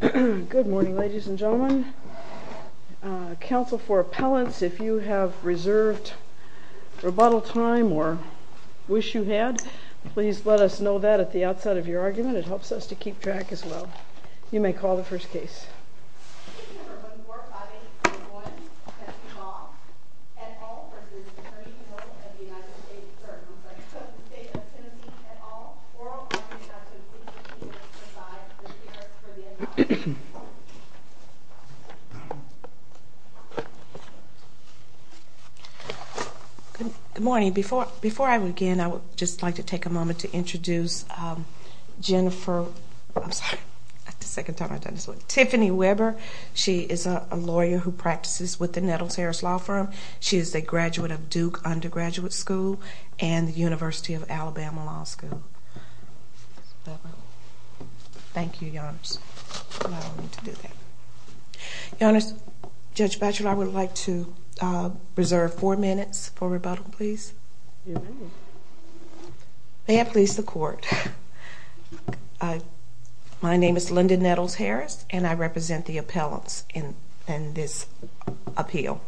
Good morning, ladies and gentlemen. Council for Appellants, if you have reserved rebuttal time or wish you had, please let us know that at the outset of your argument. It helps us to keep track as well. You may call the first case. Good morning. Before I begin, I would just like to take a moment to introduce Tiffany Webber. She is a lawyer who practices with the Nettles-Harris Law Firm. She is a graduate of Duke Undergraduate School and the University of Alabama Law School. Thank you, Your Honor. Judge Batchelor, I would like to reserve four minutes for rebuttal, please. May I please the Court? My name is Linda Nettles-Harris and I represent the appellants in this appeal.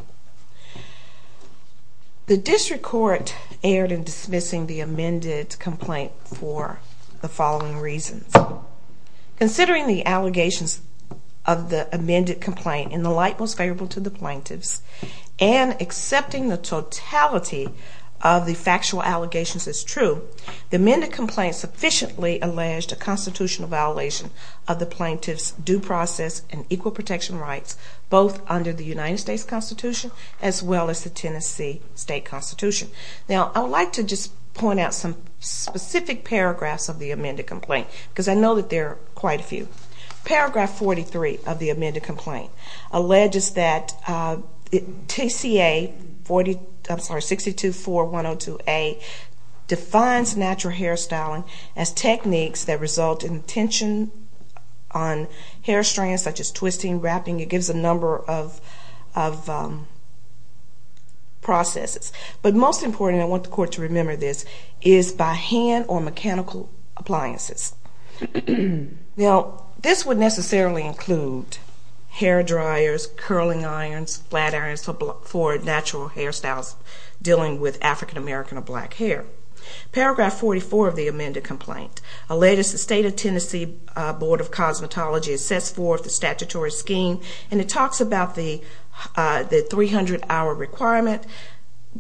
The District Court erred in dismissing the amended complaint for the following reasons. Considering the allegations of the amended complaint in the light most favorable to the complaint sufficiently alleged a constitutional violation of the plaintiff's due process and equal protection rights both under the United States Constitution as well as the Tennessee State Constitution. Now, I would like to just point out some specific paragraphs of the amended complaint because I know that there are quite a few. Paragraph 43 of the amended as techniques that result in tension on hair strands such as twisting, wrapping. It gives a number of processes. But most important, I want the Court to remember this, is by hand or mechanical appliances. Now, this would necessarily include hair dryers, curling irons, flat irons for natural hairstyles dealing with African-American or black hair. Paragraph 44 of the amended complaint. Alleged it's the State of Tennessee Board of Cosmetology assess for the statutory scheme. And it talks about the 300-hour requirement,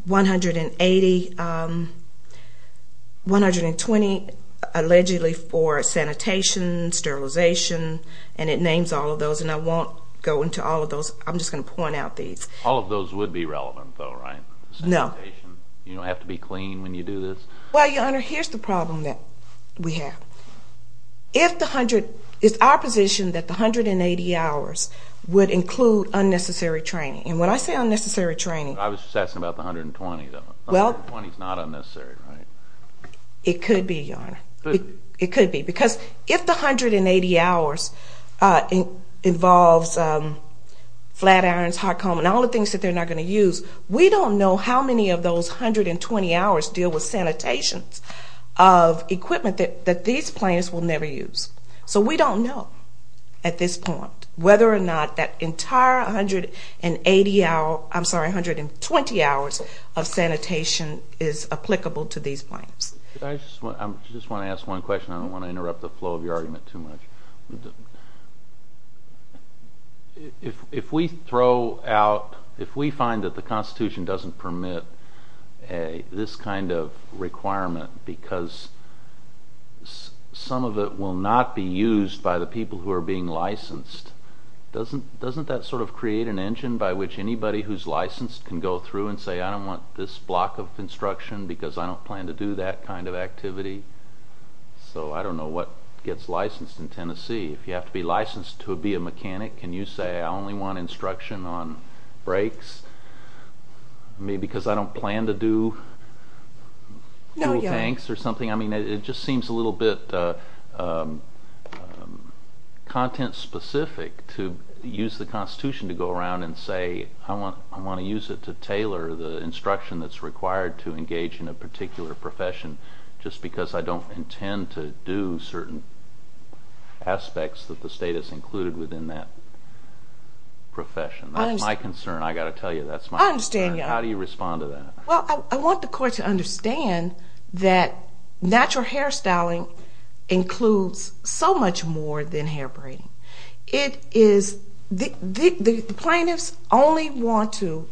180, 120 allegedly for sanitation, sterilization. And it names all of those. And I won't go into all of those. I'm just going to point out these. All of those would be relevant though, right? Sanitation. You don't have to be clean when you do this. Well, Your Honor, here's the problem that we have. If the hundred, it's our position that the 180 hours would include unnecessary training. And when I say unnecessary training. I was just asking about the 120 though. Well. 120 is not unnecessary, right? It could be, Your Honor. It could be. Because if the 180 hours involves flat irons, hot comb, and all the things that they're not going to use, we don't know how many of those 120 hours deal with sanitation of equipment that these plaintiffs will never use. So we don't know at this point whether or not that entire 120 hours of sanitation is applicable to these plaintiffs. I just want to ask one question. I don't want to interrupt the flow of your argument too much. If we throw out, if we find that the Constitution doesn't permit this kind of requirement because some of it will not be used by the people who are being licensed, doesn't that sort of create an engine by which anybody who's licensed can go through and say I don't want this block of instruction because I don't plan to do that kind of activity. So I don't know what gets licensed in Tennessee. If you have to be licensed to be a mechanic, can you say I only want instruction on brakes maybe because I don't plan to do fuel tanks or something? I mean it just seems a little bit content specific to use the Constitution to go around and say I want to use it to tailor the instruction that's required to engage in a particular profession just because I don't intend to do certain aspects that the state has included within that profession. That's my concern. I've got to tell you that's my concern. I understand you. How do you respond to that? Well, I want the court to understand that natural hairstyling includes so much more than hair braiding. It is, the plaintiffs only want to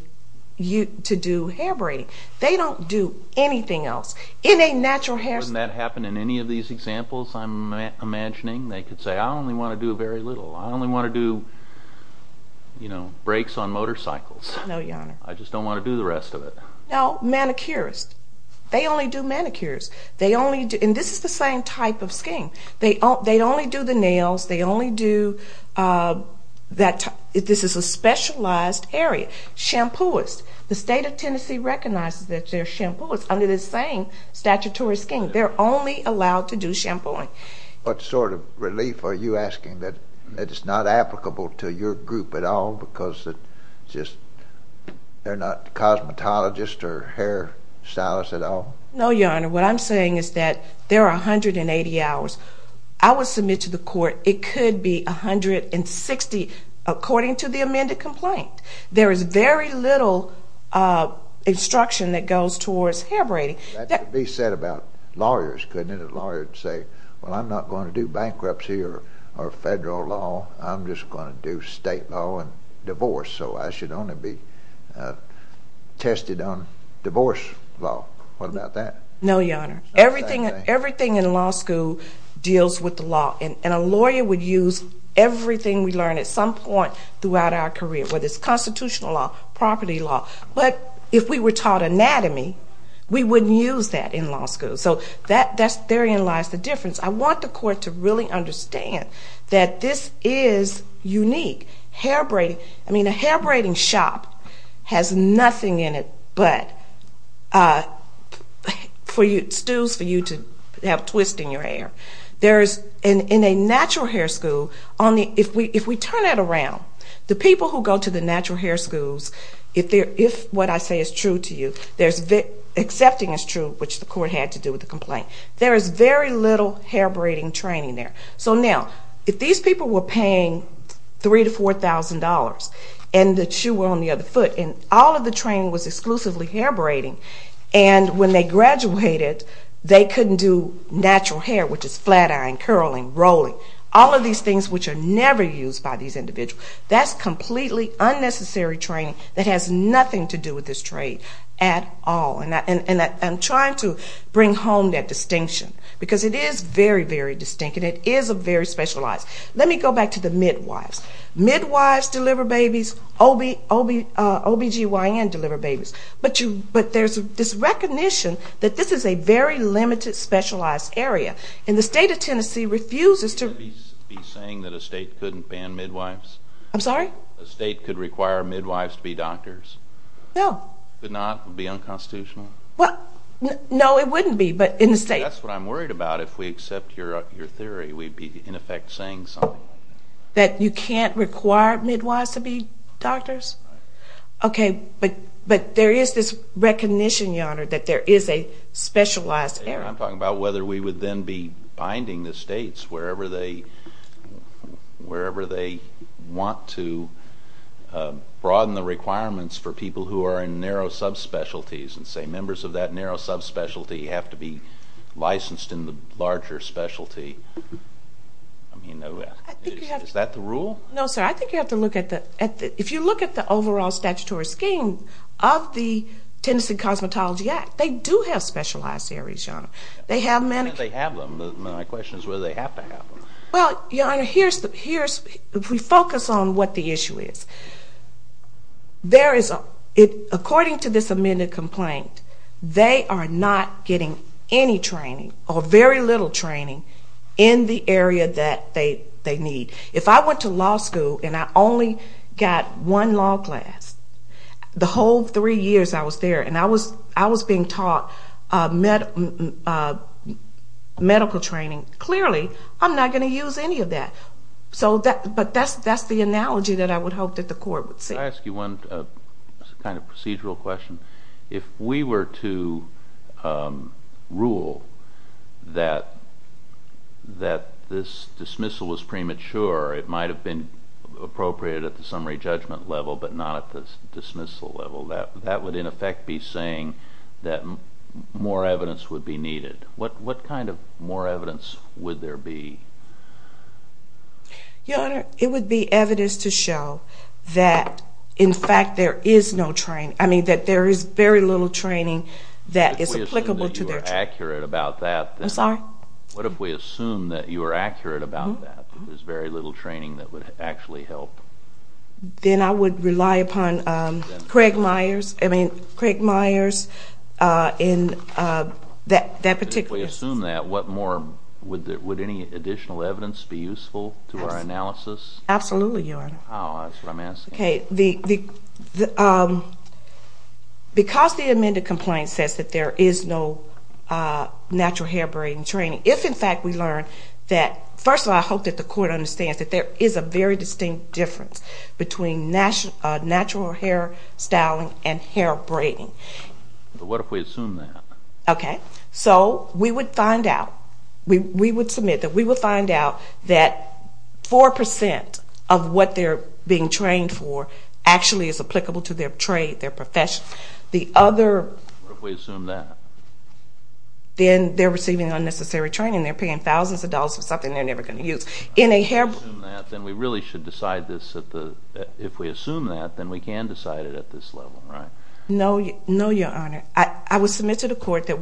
do hair braiding. They don't do anything else. In a natural hairstyling... Wouldn't that happen in any of these examples I'm imagining? They could say I only want to do very little. I only want to do, you know, brakes on motorcycles. No, Your Honor. I just don't want to do the rest of it. No, manicurists. They only do manicures. They only do... and this is the same type of scheme. They only do the nails. They only do that... this is a specialized area. Shampooists. The state of Tennessee recognizes that they're shampooists under the same statutory scheme. They're only allowed to do shampooing. What sort of relief are you asking that it's not applicable to your group at all because it's just... they're not cosmetologists or hair stylists at all? No, Your Honor. What I'm saying is that there are 180 hours. I would submit to the court it could be 160 according to the amended complaint. There is very little instruction that goes towards hair braiding. That could be said about lawyers, couldn't it? A lawyer would say, well, I'm not going to do bankruptcy or federal law. I'm just going to do state law and divorce. So I should only be tested on divorce law. What about that? No, Your Honor. Everything in law school deals with the law. And a lawyer would use everything we learn at some point throughout our career, whether it's constitutional law, property law. But if we were taught anatomy, we wouldn't use that in law school. So therein lies the difference. I want the court to really understand that this is unique. I mean, a hair braiding shop has nothing in it but stools for you to have twists in your hair. In a natural hair school, if we turn it around, the people who go to the natural hair schools, if what I say is true to you, accepting is true, which the court had to do with the complaint, there is very little hair braiding training there. So now, if these people were paying $3,000 to $4,000 and the shoe were on the other foot and all of the training was exclusively hair braiding, and when they graduated they couldn't do natural hair, which is flat iron, curling, rolling, all of these things which are never used by these individuals. That's completely unnecessary training that has nothing to do with this trade at all. And I'm trying to bring home that distinction, because it is very, very distinct and it is very specialized. Let me go back to the midwives. Midwives deliver babies. OBGYNs deliver babies. But there's this recognition that this is a very limited specialized area. And the state of Tennessee doesn't ban midwives? I'm sorry? The state could require midwives to be doctors? No. Could not? Would be unconstitutional? Well, no, it wouldn't be, but in the state. That's what I'm worried about. If we accept your theory, we'd be, in effect, saying something. That you can't require midwives to be doctors? Right. Okay, but there is this recognition, Your Honor, that there is a specialized area. I'm talking about whether we would then be in the United States, wherever they want to broaden the requirements for people who are in narrow subspecialties and say members of that narrow subspecialty have to be licensed in the larger specialty. Is that the rule? No, sir. I think you have to look at the, if you look at the overall statutory scheme of the Tennessee Cosmetology Act, they do have specialized areas, Your Honor. They have them. My question is whether they have to have them. Well, Your Honor, here's, if we focus on what the issue is, there is, according to this amended complaint, they are not getting any training or very little training in the area that they need. If I went to law school and I only got one law class, the whole three years I was there, and I was being taught medical training, clearly, I'm not going to use any of that. But that's the analogy that I would hope that the court would see. Can I ask you one kind of procedural question? If we were to rule that this dismissal was premature, it might have been appropriated at the summary judgment level, but not at the dismissal level, that would, in effect, be saying that more evidence would be needed. What kind of more evidence would there be? Your Honor, it would be evidence to show that, in fact, there is no training, I mean, that there is very little training that is applicable to their training. What if we assume that you are accurate about that? I'm sorry? What if we assume that you are accurate about that, that there's very little training that would actually help? Then I would rely upon Craig Myers, I mean, Craig Myers in that particular case. If we assume that, what more, would any additional evidence be useful to our analysis? Absolutely, Your Honor. Oh, that's what I'm asking. Okay, because the amended complaint says that there is no natural hair braiding training, if, in fact, we learn that, first of all, I hope that the Court understands that there is a very distinct difference between natural hair styling and hair braiding. But what if we assume that? Okay, so we would find out, we would submit that we would find out that 4% of what they're being trained for actually is applicable to their trade, their profession. What if we assume that? Then they're receiving unnecessary training, they're paying thousands of dollars for something they're never going to use. If we assume that, then we really should decide this, if we assume that, then we can decide it at this level, right? No, Your Honor. I would submit to the Court that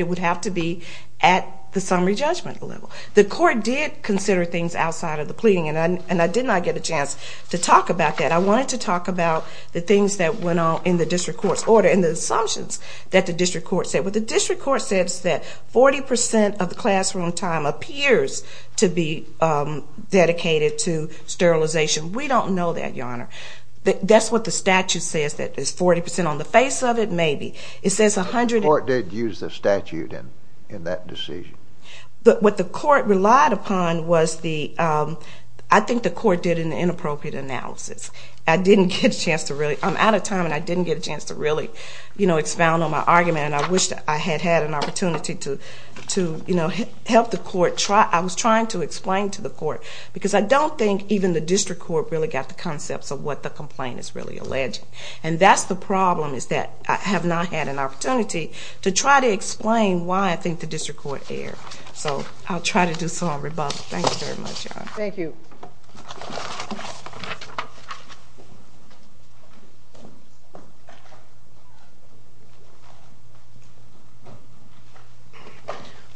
it would have to be at the summary judgment level. The Court did consider things outside of the pleading, and I did not get a chance to talk about that. I wanted to talk about the things that went on in the District Court's order and the assumptions that the District Court said. What the District Court said is that 40% of the classroom time appears to be dedicated to sterilization. We don't know that, Your Honor. That's what the statute says, that it's 40% on the face of it, maybe. It says 100... The Court did use the statute in that decision. But what the Court relied upon was the, I think the Court did an inappropriate analysis. I didn't get a chance to really, I'm out of time and I didn't get a chance to really expound on my argument, and I wish that I had had an opportunity to try to explain to the Court, because I don't think even the District Court really got the concepts of what the complaint is really alleging. And that's the problem, is that I have not had an opportunity to try to explain why I think the District Court erred. So I'll try to do so on rebuttal. Thank you very much, Your Honor. Thank you.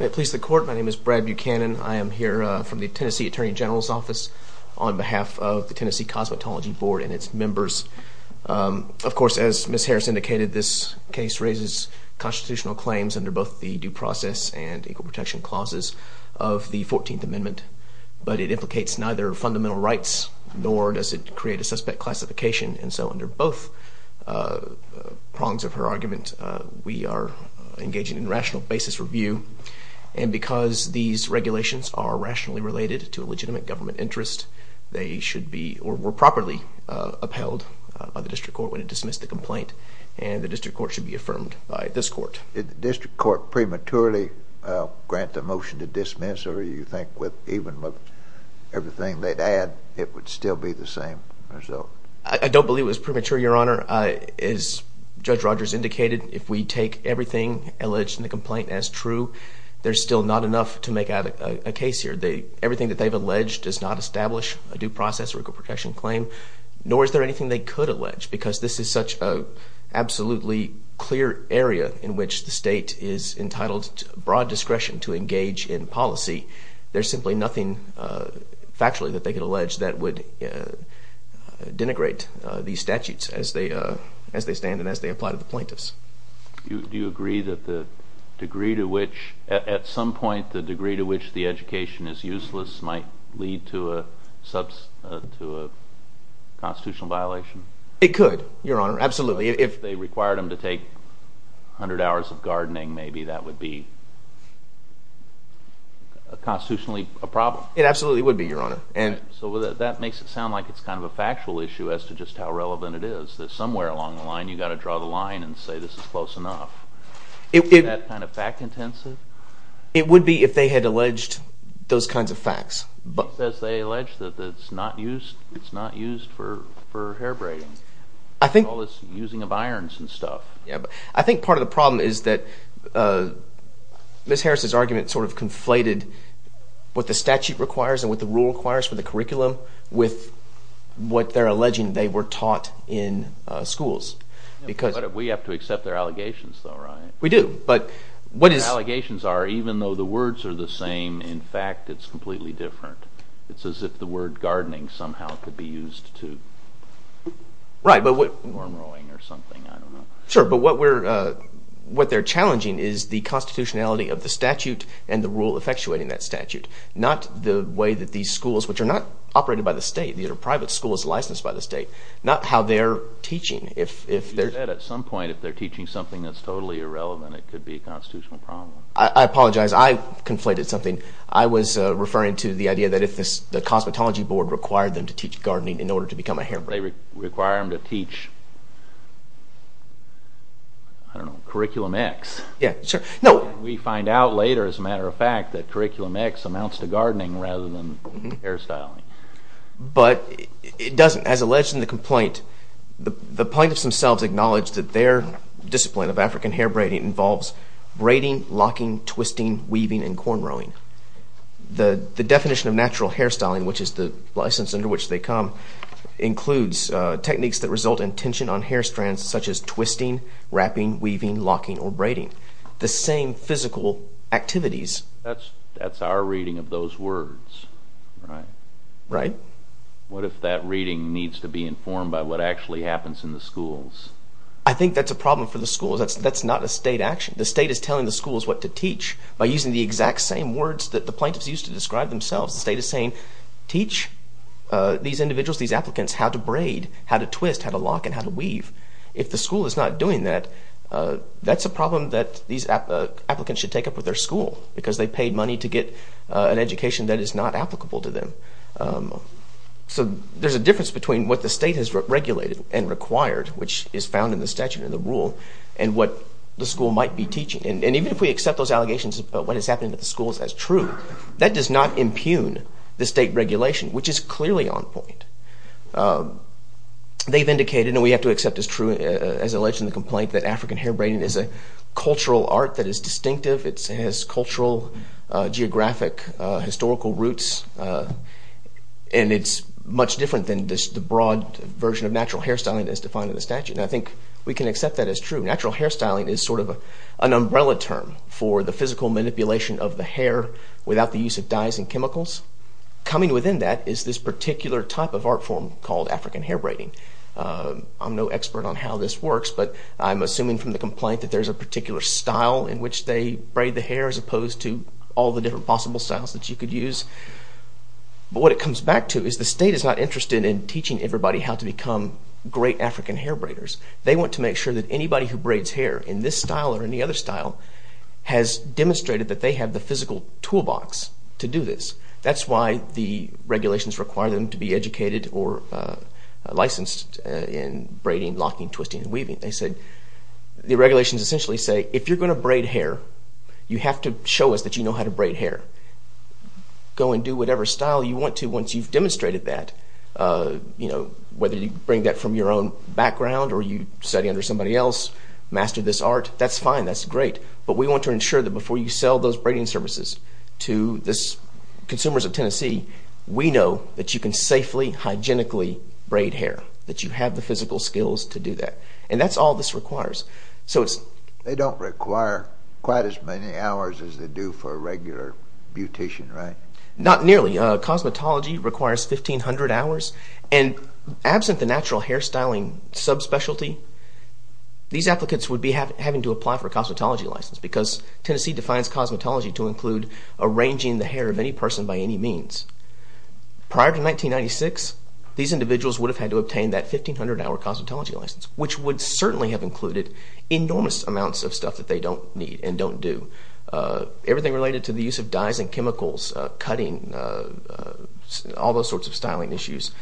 May it please the Court, my name is Brad Buchanan. I am here from the Tennessee Attorney General's Office on behalf of the Tennessee Cosmetology Board and its members. Of course, as Ms. Harris indicated, this case raises constitutional claims under both the due process and equal elemental rights, nor does it create a suspect classification. And so under both prongs of her argument, we are engaging in rational basis review. And because these regulations are rationally related to a legitimate government interest, they should be, or were properly upheld by the District Court when it dismissed the complaint. And the District Court should be affirmed by this Court. Did the District Court prematurely grant the be the same result? I don't believe it was premature, Your Honor. As Judge Rogers indicated, if we take everything alleged in the complaint as true, there's still not enough to make out a case here. Everything that they've alleged does not establish a due process or equal protection claim, nor is there anything they could allege, because this is such an absolutely clear area in which the state is entitled to broad discretion to engage in denigrate these statutes as they stand and as they apply to the plaintiffs. Do you agree that the degree to which, at some point, the degree to which the education is useless might lead to a constitutional violation? It could, Your Honor, absolutely. If they required them to take 100 hours of gardening, maybe that would be constitutionally a problem? It absolutely would be, Your Honor. So that makes it sound like it's kind of a factual issue as to just how relevant it is, that somewhere along the line, you've got to draw the line and say this is close enough. Is that kind of fact-intensive? It would be if they had alleged those kinds of facts. It says they allege that it's not used for hair braiding. It's all this using of irons and stuff. I think part of the problem is that Ms. Harris's argument sort of conflated what the statute requires and what the rule requires for the curriculum with what they're alleging they were taught in schools. We have to accept their allegations, though, right? We do, but what is... Their allegations are even though the words are the same, in fact, it's completely different. It's as if the word gardening somehow could be used to worm rowing or something, I don't know. Sure, but what they're challenging is the constitutionality of the statute and the rule effectuating that statute, not the way that these schools, which are not operated by the state, these are private schools licensed by the state, not how they're teaching. You said at some point if they're teaching something that's totally irrelevant, it could be a constitutional problem. I apologize, I conflated something. I was referring to the idea that if the cosmetology board required them to teach gardening in order to become a hair braider. They require them to teach, I don't know, curriculum X. Yeah, sure. We find out later, as a matter of fact, that curriculum X amounts to gardening rather than hairstyling. But it doesn't. As alleged in the complaint, the plaintiffs themselves acknowledge that their discipline of African hair braiding involves braiding, locking, twisting, weaving, and cornrowing. The definition of natural hairstyling, which is the license under which they come, includes techniques that result in tension on hair strands such as twisting, wrapping, weaving, locking, or braiding. The same physical activities. That's our reading of those words, right? Right. What if that reading needs to be informed by what actually happens in the schools? I think that's a problem for the schools. That's not a state action. The state is telling the schools what to teach by using the exact same words that the plaintiffs used to describe themselves. The state is saying, teach these individuals, these applicants, how to braid, how to twist, how to lock, and how to weave. If the school is not doing that, that's a problem that these applicants should take up with their school, because they paid money to get an education that is not applicable to them. So there's a difference between what the state has regulated and required, which is found in the statute and the rule, and what the school might be teaching. And even if we accept those allegations about what is happening at the schools as true, that does not impugn the state regulation, which is clearly on point. They've indicated, and we have to accept as true, as alleged in the complaint, that African hair braiding is a cultural art that is distinctive. It has cultural, geographic, historical roots, and it's much different than the broad version of natural hairstyling as defined in the statute. And I think we can accept that as true. Natural hairstyling is sort of an umbrella term for the physical manipulation of the hair without the use of dyes and chemicals. Coming within that is this particular type of art form called African hair braiding. I'm no expert on how this works, but I'm assuming from the complaint that there's a particular style in which they braid the hair as opposed to all the different possible styles that you could use. But what it comes back to is the state is not interested in teaching everybody how to become great African hair braiders. They want to make sure that anybody who braids hair in this style or any other style has demonstrated that they have the physical toolbox to do this. That's why the regulations require them to be educated or licensed in braiding, locking, twisting, and weaving. They said, the regulations essentially say, if you're going to braid hair, you have to show us that you know how to braid hair. Go and do whatever style you want to once you've demonstrated that. You know, whether you bring that from your own background or you study under somebody else, master this art, that's fine, that's great. But we want to ensure that before you sell those braiding services to consumers of Tennessee, we know that you can safely, hygienically braid hair, that you have the physical skills to do that. And that's all this requires. They don't require quite as many hours as they do for a regular beautician, right? Not nearly. Cosmetology requires 1,500 hours. And absent the natural hair styling subspecialty, these applicants would be having to apply for a cosmetology license because Tennessee defines cosmetology to include arranging the hair of any person by any means. Prior to 1996, these individuals would have had to obtain that 1,500 hour cosmetology license, which would certainly have included enormous amounts of stuff that they don't need and don't do. Everything related to the use of dyes and chemicals, cutting, all those sorts of styling issues.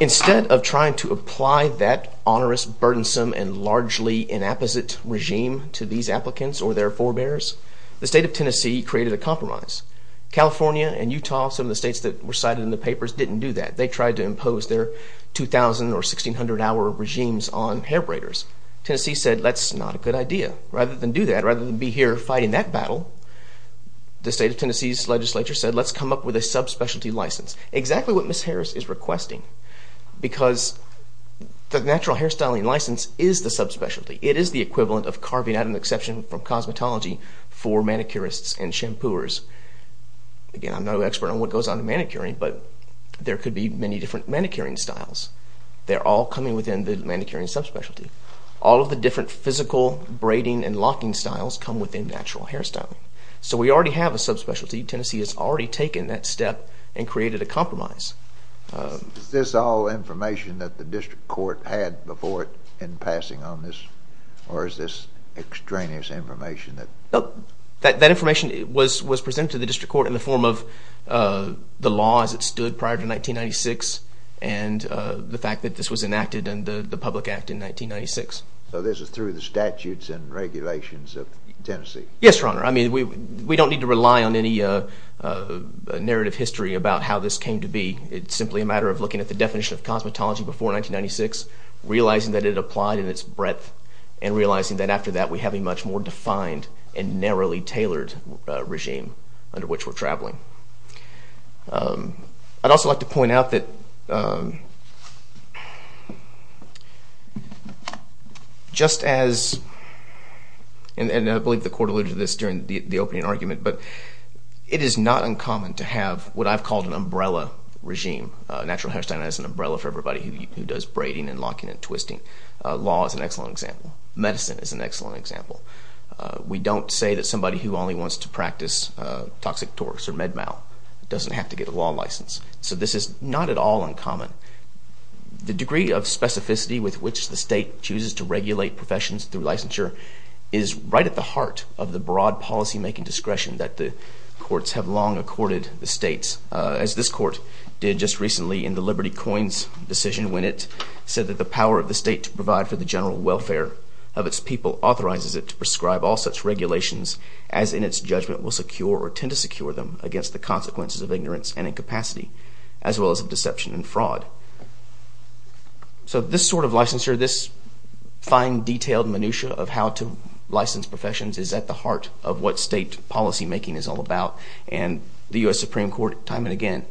Instead of trying to apply that onerous, burdensome, and largely inapposite regime to these applicants or their forebears, the state of Tennessee created a compromise. California and Utah, some of the states that were cited in the papers, didn't do that. They tried to impose their 2,000 or 1,600 hour regimes on hair braiders. Tennessee said, that's not a good idea. Rather than do that, rather than be here fighting that battle, the state of Tennessee's legislature said, let's come up with a subspecialty license. Exactly what Ms. Harris is requesting. Because the natural hair styling license is the subspecialty. It is the equivalent of carving out an exception from cosmetology for manicurists and shampoos. Again, I'm not an expert on what goes on in manicuring, but there could be many different manicuring styles. They're all coming within the manicuring subspecialty. All of the different physical braiding and locking styles come within natural hair styling. So we already have a subspecialty. Tennessee has already taken that step and created a compromise. Is this all information that the district court had before it in passing on this? Or is this extraneous information? That information was presented to the district court in the form of the law as it stood prior to 1996 and the fact that this was enacted in the public act in 1996. So this is through the statutes and regulations of Tennessee? Yes, Your Honor. I mean, we don't need to rely on any narrative history about how this came to be. It's simply a matter of looking at the definition of cosmetology before 1996, realizing that it applied in its breadth, and realizing that after that we have a much more defined and narrowly tailored regime under which we're traveling. I'd also like to point out that just as, and I believe the court alluded to this during the opening argument, but it is not uncommon to have what I've called an umbrella regime. Natural hair styling is an umbrella for everybody who does braiding and locking and twisting. Law is an excellent example. Medicine is an excellent example. We don't say that somebody who only wants to practice toxic torques or med mal doesn't have to get a law license. So this is not at all uncommon. The degree of specificity with which the state chooses to regulate professions through licensure is right at the heart of the broad policymaking discretion that the courts have long accorded the states, as this court did just recently in the Liberty Coins decision when it said that the power of the state to provide for the general welfare of its people authorizes it to prescribe all such regulations as in its judgment will secure or tend to secure them against the consequences of ignorance So this sort of licensure, this fine detailed minutiae of how to license professions is at the heart of what state policymaking is all about, and the U.S. Supreme Court time and again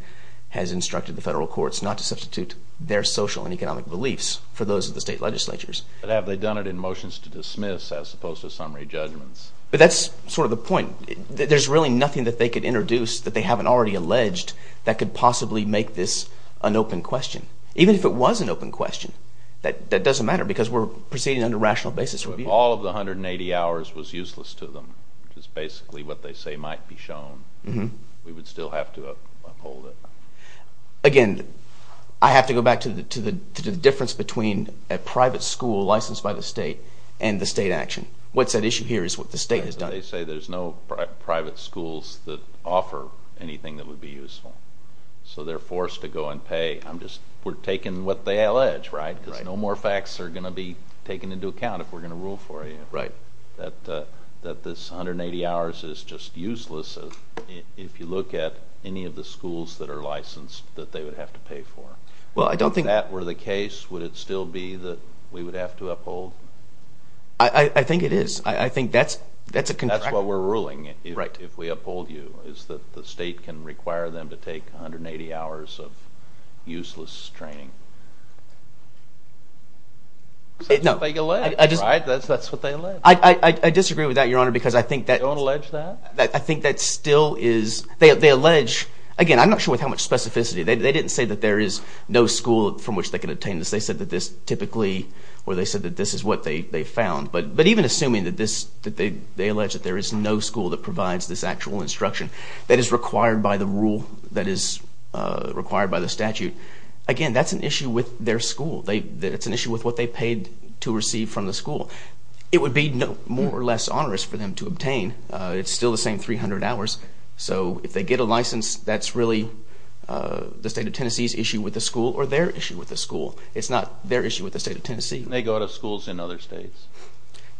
has instructed the federal courts not to substitute their social and economic beliefs for those of the state legislatures. But have they done it in motions to dismiss as opposed to summary judgments? But that's sort of the point. There's really nothing that they could introduce that they could possibly make this an open question. Even if it was an open question, that doesn't matter because we're proceeding under rational basis review. All of the 180 hours was useless to them, which is basically what they say might be shown. We would still have to uphold it. Again, I have to go back to the difference between a private school licensed by the state and the state action. What's at issue here is what the state has done. They say there's no private schools that offer anything that would be useful. So they're forced to go and pay. We're taking what they allege, right? Because no more facts are going to be taken into account if we're going to rule for you. That this 180 hours is just useless if you look at any of the schools that are licensed that they would have to pay for. If that were the case, would it still be that we would have to uphold? I think it is. I think that's a contract. That's what we're ruling, if we uphold you, is that the state can require them to take 180 hours of useless training. That's what they allege, right? That's what they allege. I disagree with that, Your Honor, because I think that... You don't allege that? I think that still is... They allege... Again, I'm not sure with how much specificity. They didn't say that there is no school from which they can obtain this. They said that this is what they found. But even assuming that they allege that there is no school that provides this actual instruction that is required by the rule, that is required by the statute, again, that's an issue with their school. It's an issue with what they paid to receive from the school. It would be more or less onerous for them to obtain. It's still the same 300 hours. So if they get a license, that's really the state of Tennessee's issue with the school or their issue with the school. It's not their issue with the state of Tennessee. Can they go to schools in other states?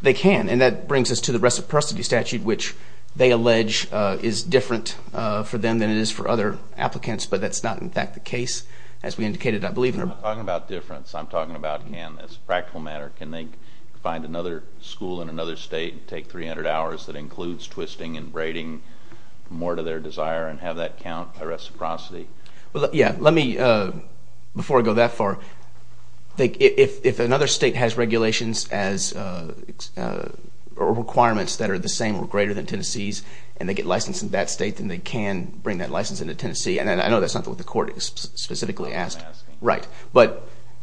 They can. And that brings us to the reciprocity statute, which they allege is different for them than it is for other applicants. But that's not, in fact, the case. As we indicated, I believe... I'm not talking about difference. I'm talking about can. It's a practical matter. Can they find another school in another state and take 300 hours that includes twisting and braiding more to their desire and have that count by reciprocity? Before I go that far, if another state has regulations or requirements that are the same or greater than Tennessee's and they get licensed in that state, then they can bring that license into Tennessee. I know that's not what the court specifically asked. That's what I'm asking. Right.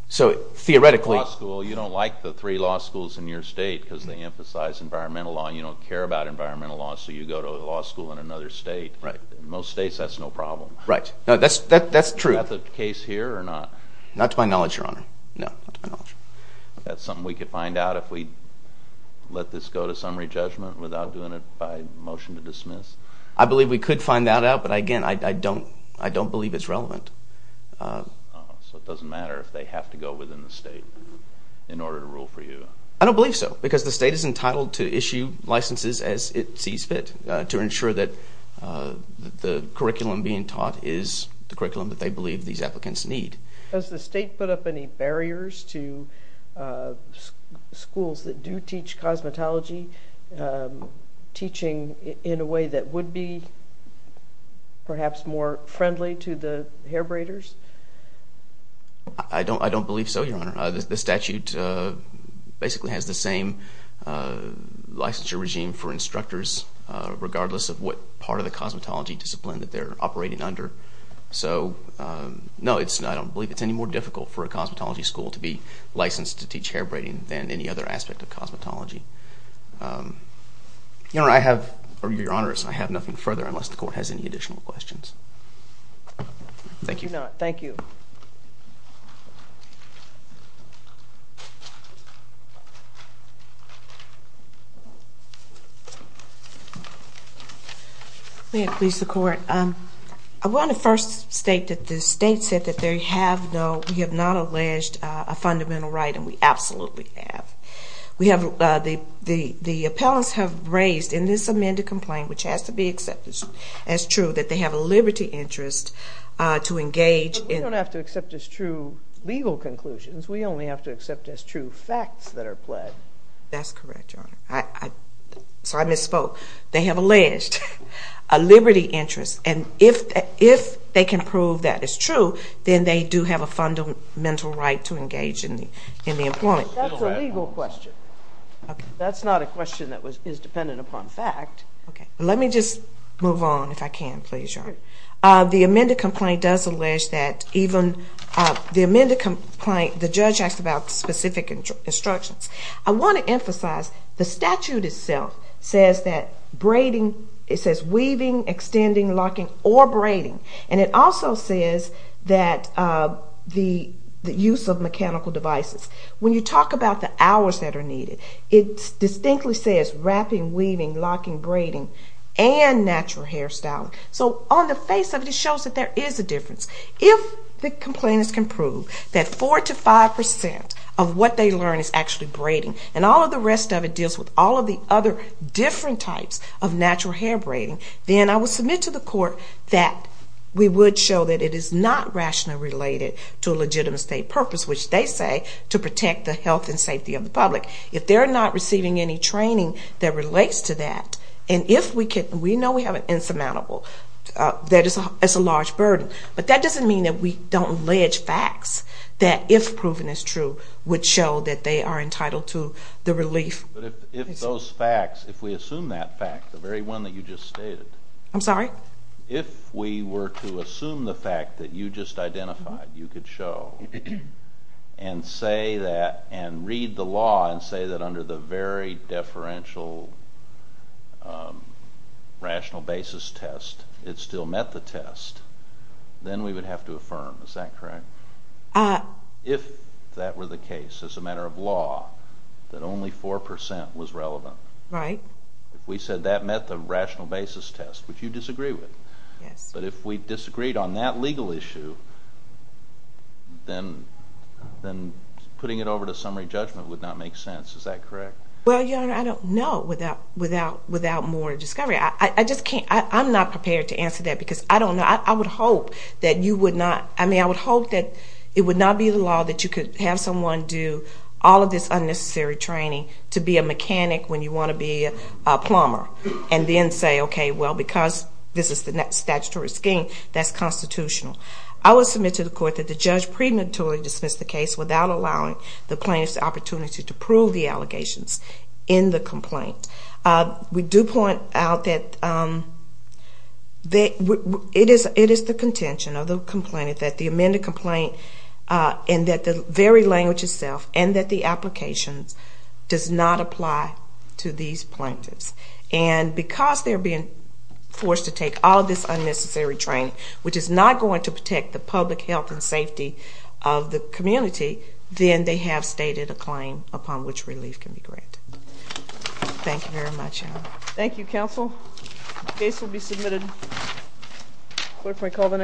So theoretically... You don't like the three law schools in your state because they emphasize environmental law. You don't care about environmental law, so you go to a law school in another state. In most states, that's no problem. Right. That's true. Is that the case here or not? Not to my knowledge, Your Honor. No. Not to my knowledge. Is that something we could find out if we let this go to summary judgment without doing it by motion to dismiss? I believe we could find that out, but again, I don't believe it's relevant. So it doesn't matter if they have to go within the state in order to rule for you? I don't believe so because the state is entitled to issue licenses as it sees fit to ensure that the curriculum being taught is the curriculum that they believe these applicants need. Does the state put up any barriers to schools that do teach cosmetology teaching in a way that would be perhaps more friendly to the hair braiders? I don't believe so, Your Honor. The statute basically has the same licensure regime for instructors regardless of what part of the cosmetology discipline that they're operating under. So no, I don't believe it's any more difficult for a cosmetology school to be licensed to teach hair braiding than any other aspect of cosmetology. Your Honor, I have nothing further unless the Court has any additional questions. Thank you. I do not. Thank you. May it please the Court. I want to first state that the state said that we have not alleged a fundamental right, and we absolutely have. The appellants have raised in this amended complaint, which has to be accepted as true, that they have a liberty interest to engage in... But we don't have to accept as true legal conclusions. We only have to accept as true facts that are pled. That's correct, Your Honor. Sorry, I misspoke. They have alleged a liberty interest, and if they can prove that it's true, then they do have a fundamental right to engage in the employment. That's a legal question. That's not a question that is dependent upon fact. Okay. Let me just move on, if I can, please, Your Honor. The amended complaint does allege that even the amended complaint, the judge asked about specific instructions. I want to emphasize the statute itself says that braiding, it says weaving, extending, locking, or braiding, and it also says that the use of mechanical devices. When you talk about the hours that are needed, it distinctly says wrapping, weaving, locking, braiding, and natural hairstyling. So on the face of it, it shows that there is a difference. If the complainants can prove that 4% to 5% of what they learn is actually braiding and all of the rest of it deals with all of the other different types of natural hair braiding, then I will submit to the court that we would show that it is not rationally related to a legitimate state purpose, which they say to protect the health and safety of the public. If they're not receiving any training that relates to that, and if we know we have an insurmountable, that is a large burden, but that doesn't mean that we don't allege facts that, if proven as true, would show that they are entitled to the relief. But if those facts, if we assume that fact, the very one that you just stated. I'm sorry? If we were to assume the fact that you just identified, you could show and say that and read the law and say that under the very deferential rational basis test it still met the test, then we would have to affirm. Is that correct? If that were the case as a matter of law, that only 4% was relevant. Right. If we said that met the rational basis test, which you disagree with. Yes. But if we disagreed on that legal issue, then putting it over to summary judgment would not make sense. Is that correct? Well, Your Honor, I don't know without more discovery. I just can't. I'm not prepared to answer that because I don't know. I would hope that you would not. I mean, I would hope that it would not be the law that you could have someone do all of this unnecessary training to be a mechanic when you want to be a plumber and then say, okay, well, because this is the statutory scheme, that's constitutional. I would submit to the court that the judge prematurely dismissed the case without allowing the plaintiff's opportunity to prove the allegations in the complaint. We do point out that it is the contention of the complainant that the amended complaint and that the very language itself and that the applications does not apply to these plaintiffs. And because they're being forced to take all of this unnecessary training, which is not going to protect the public health and safety of the community, then they have stated a claim upon which relief can be granted. Thank you very much, Your Honor. Thank you, counsel. What did I call the next one?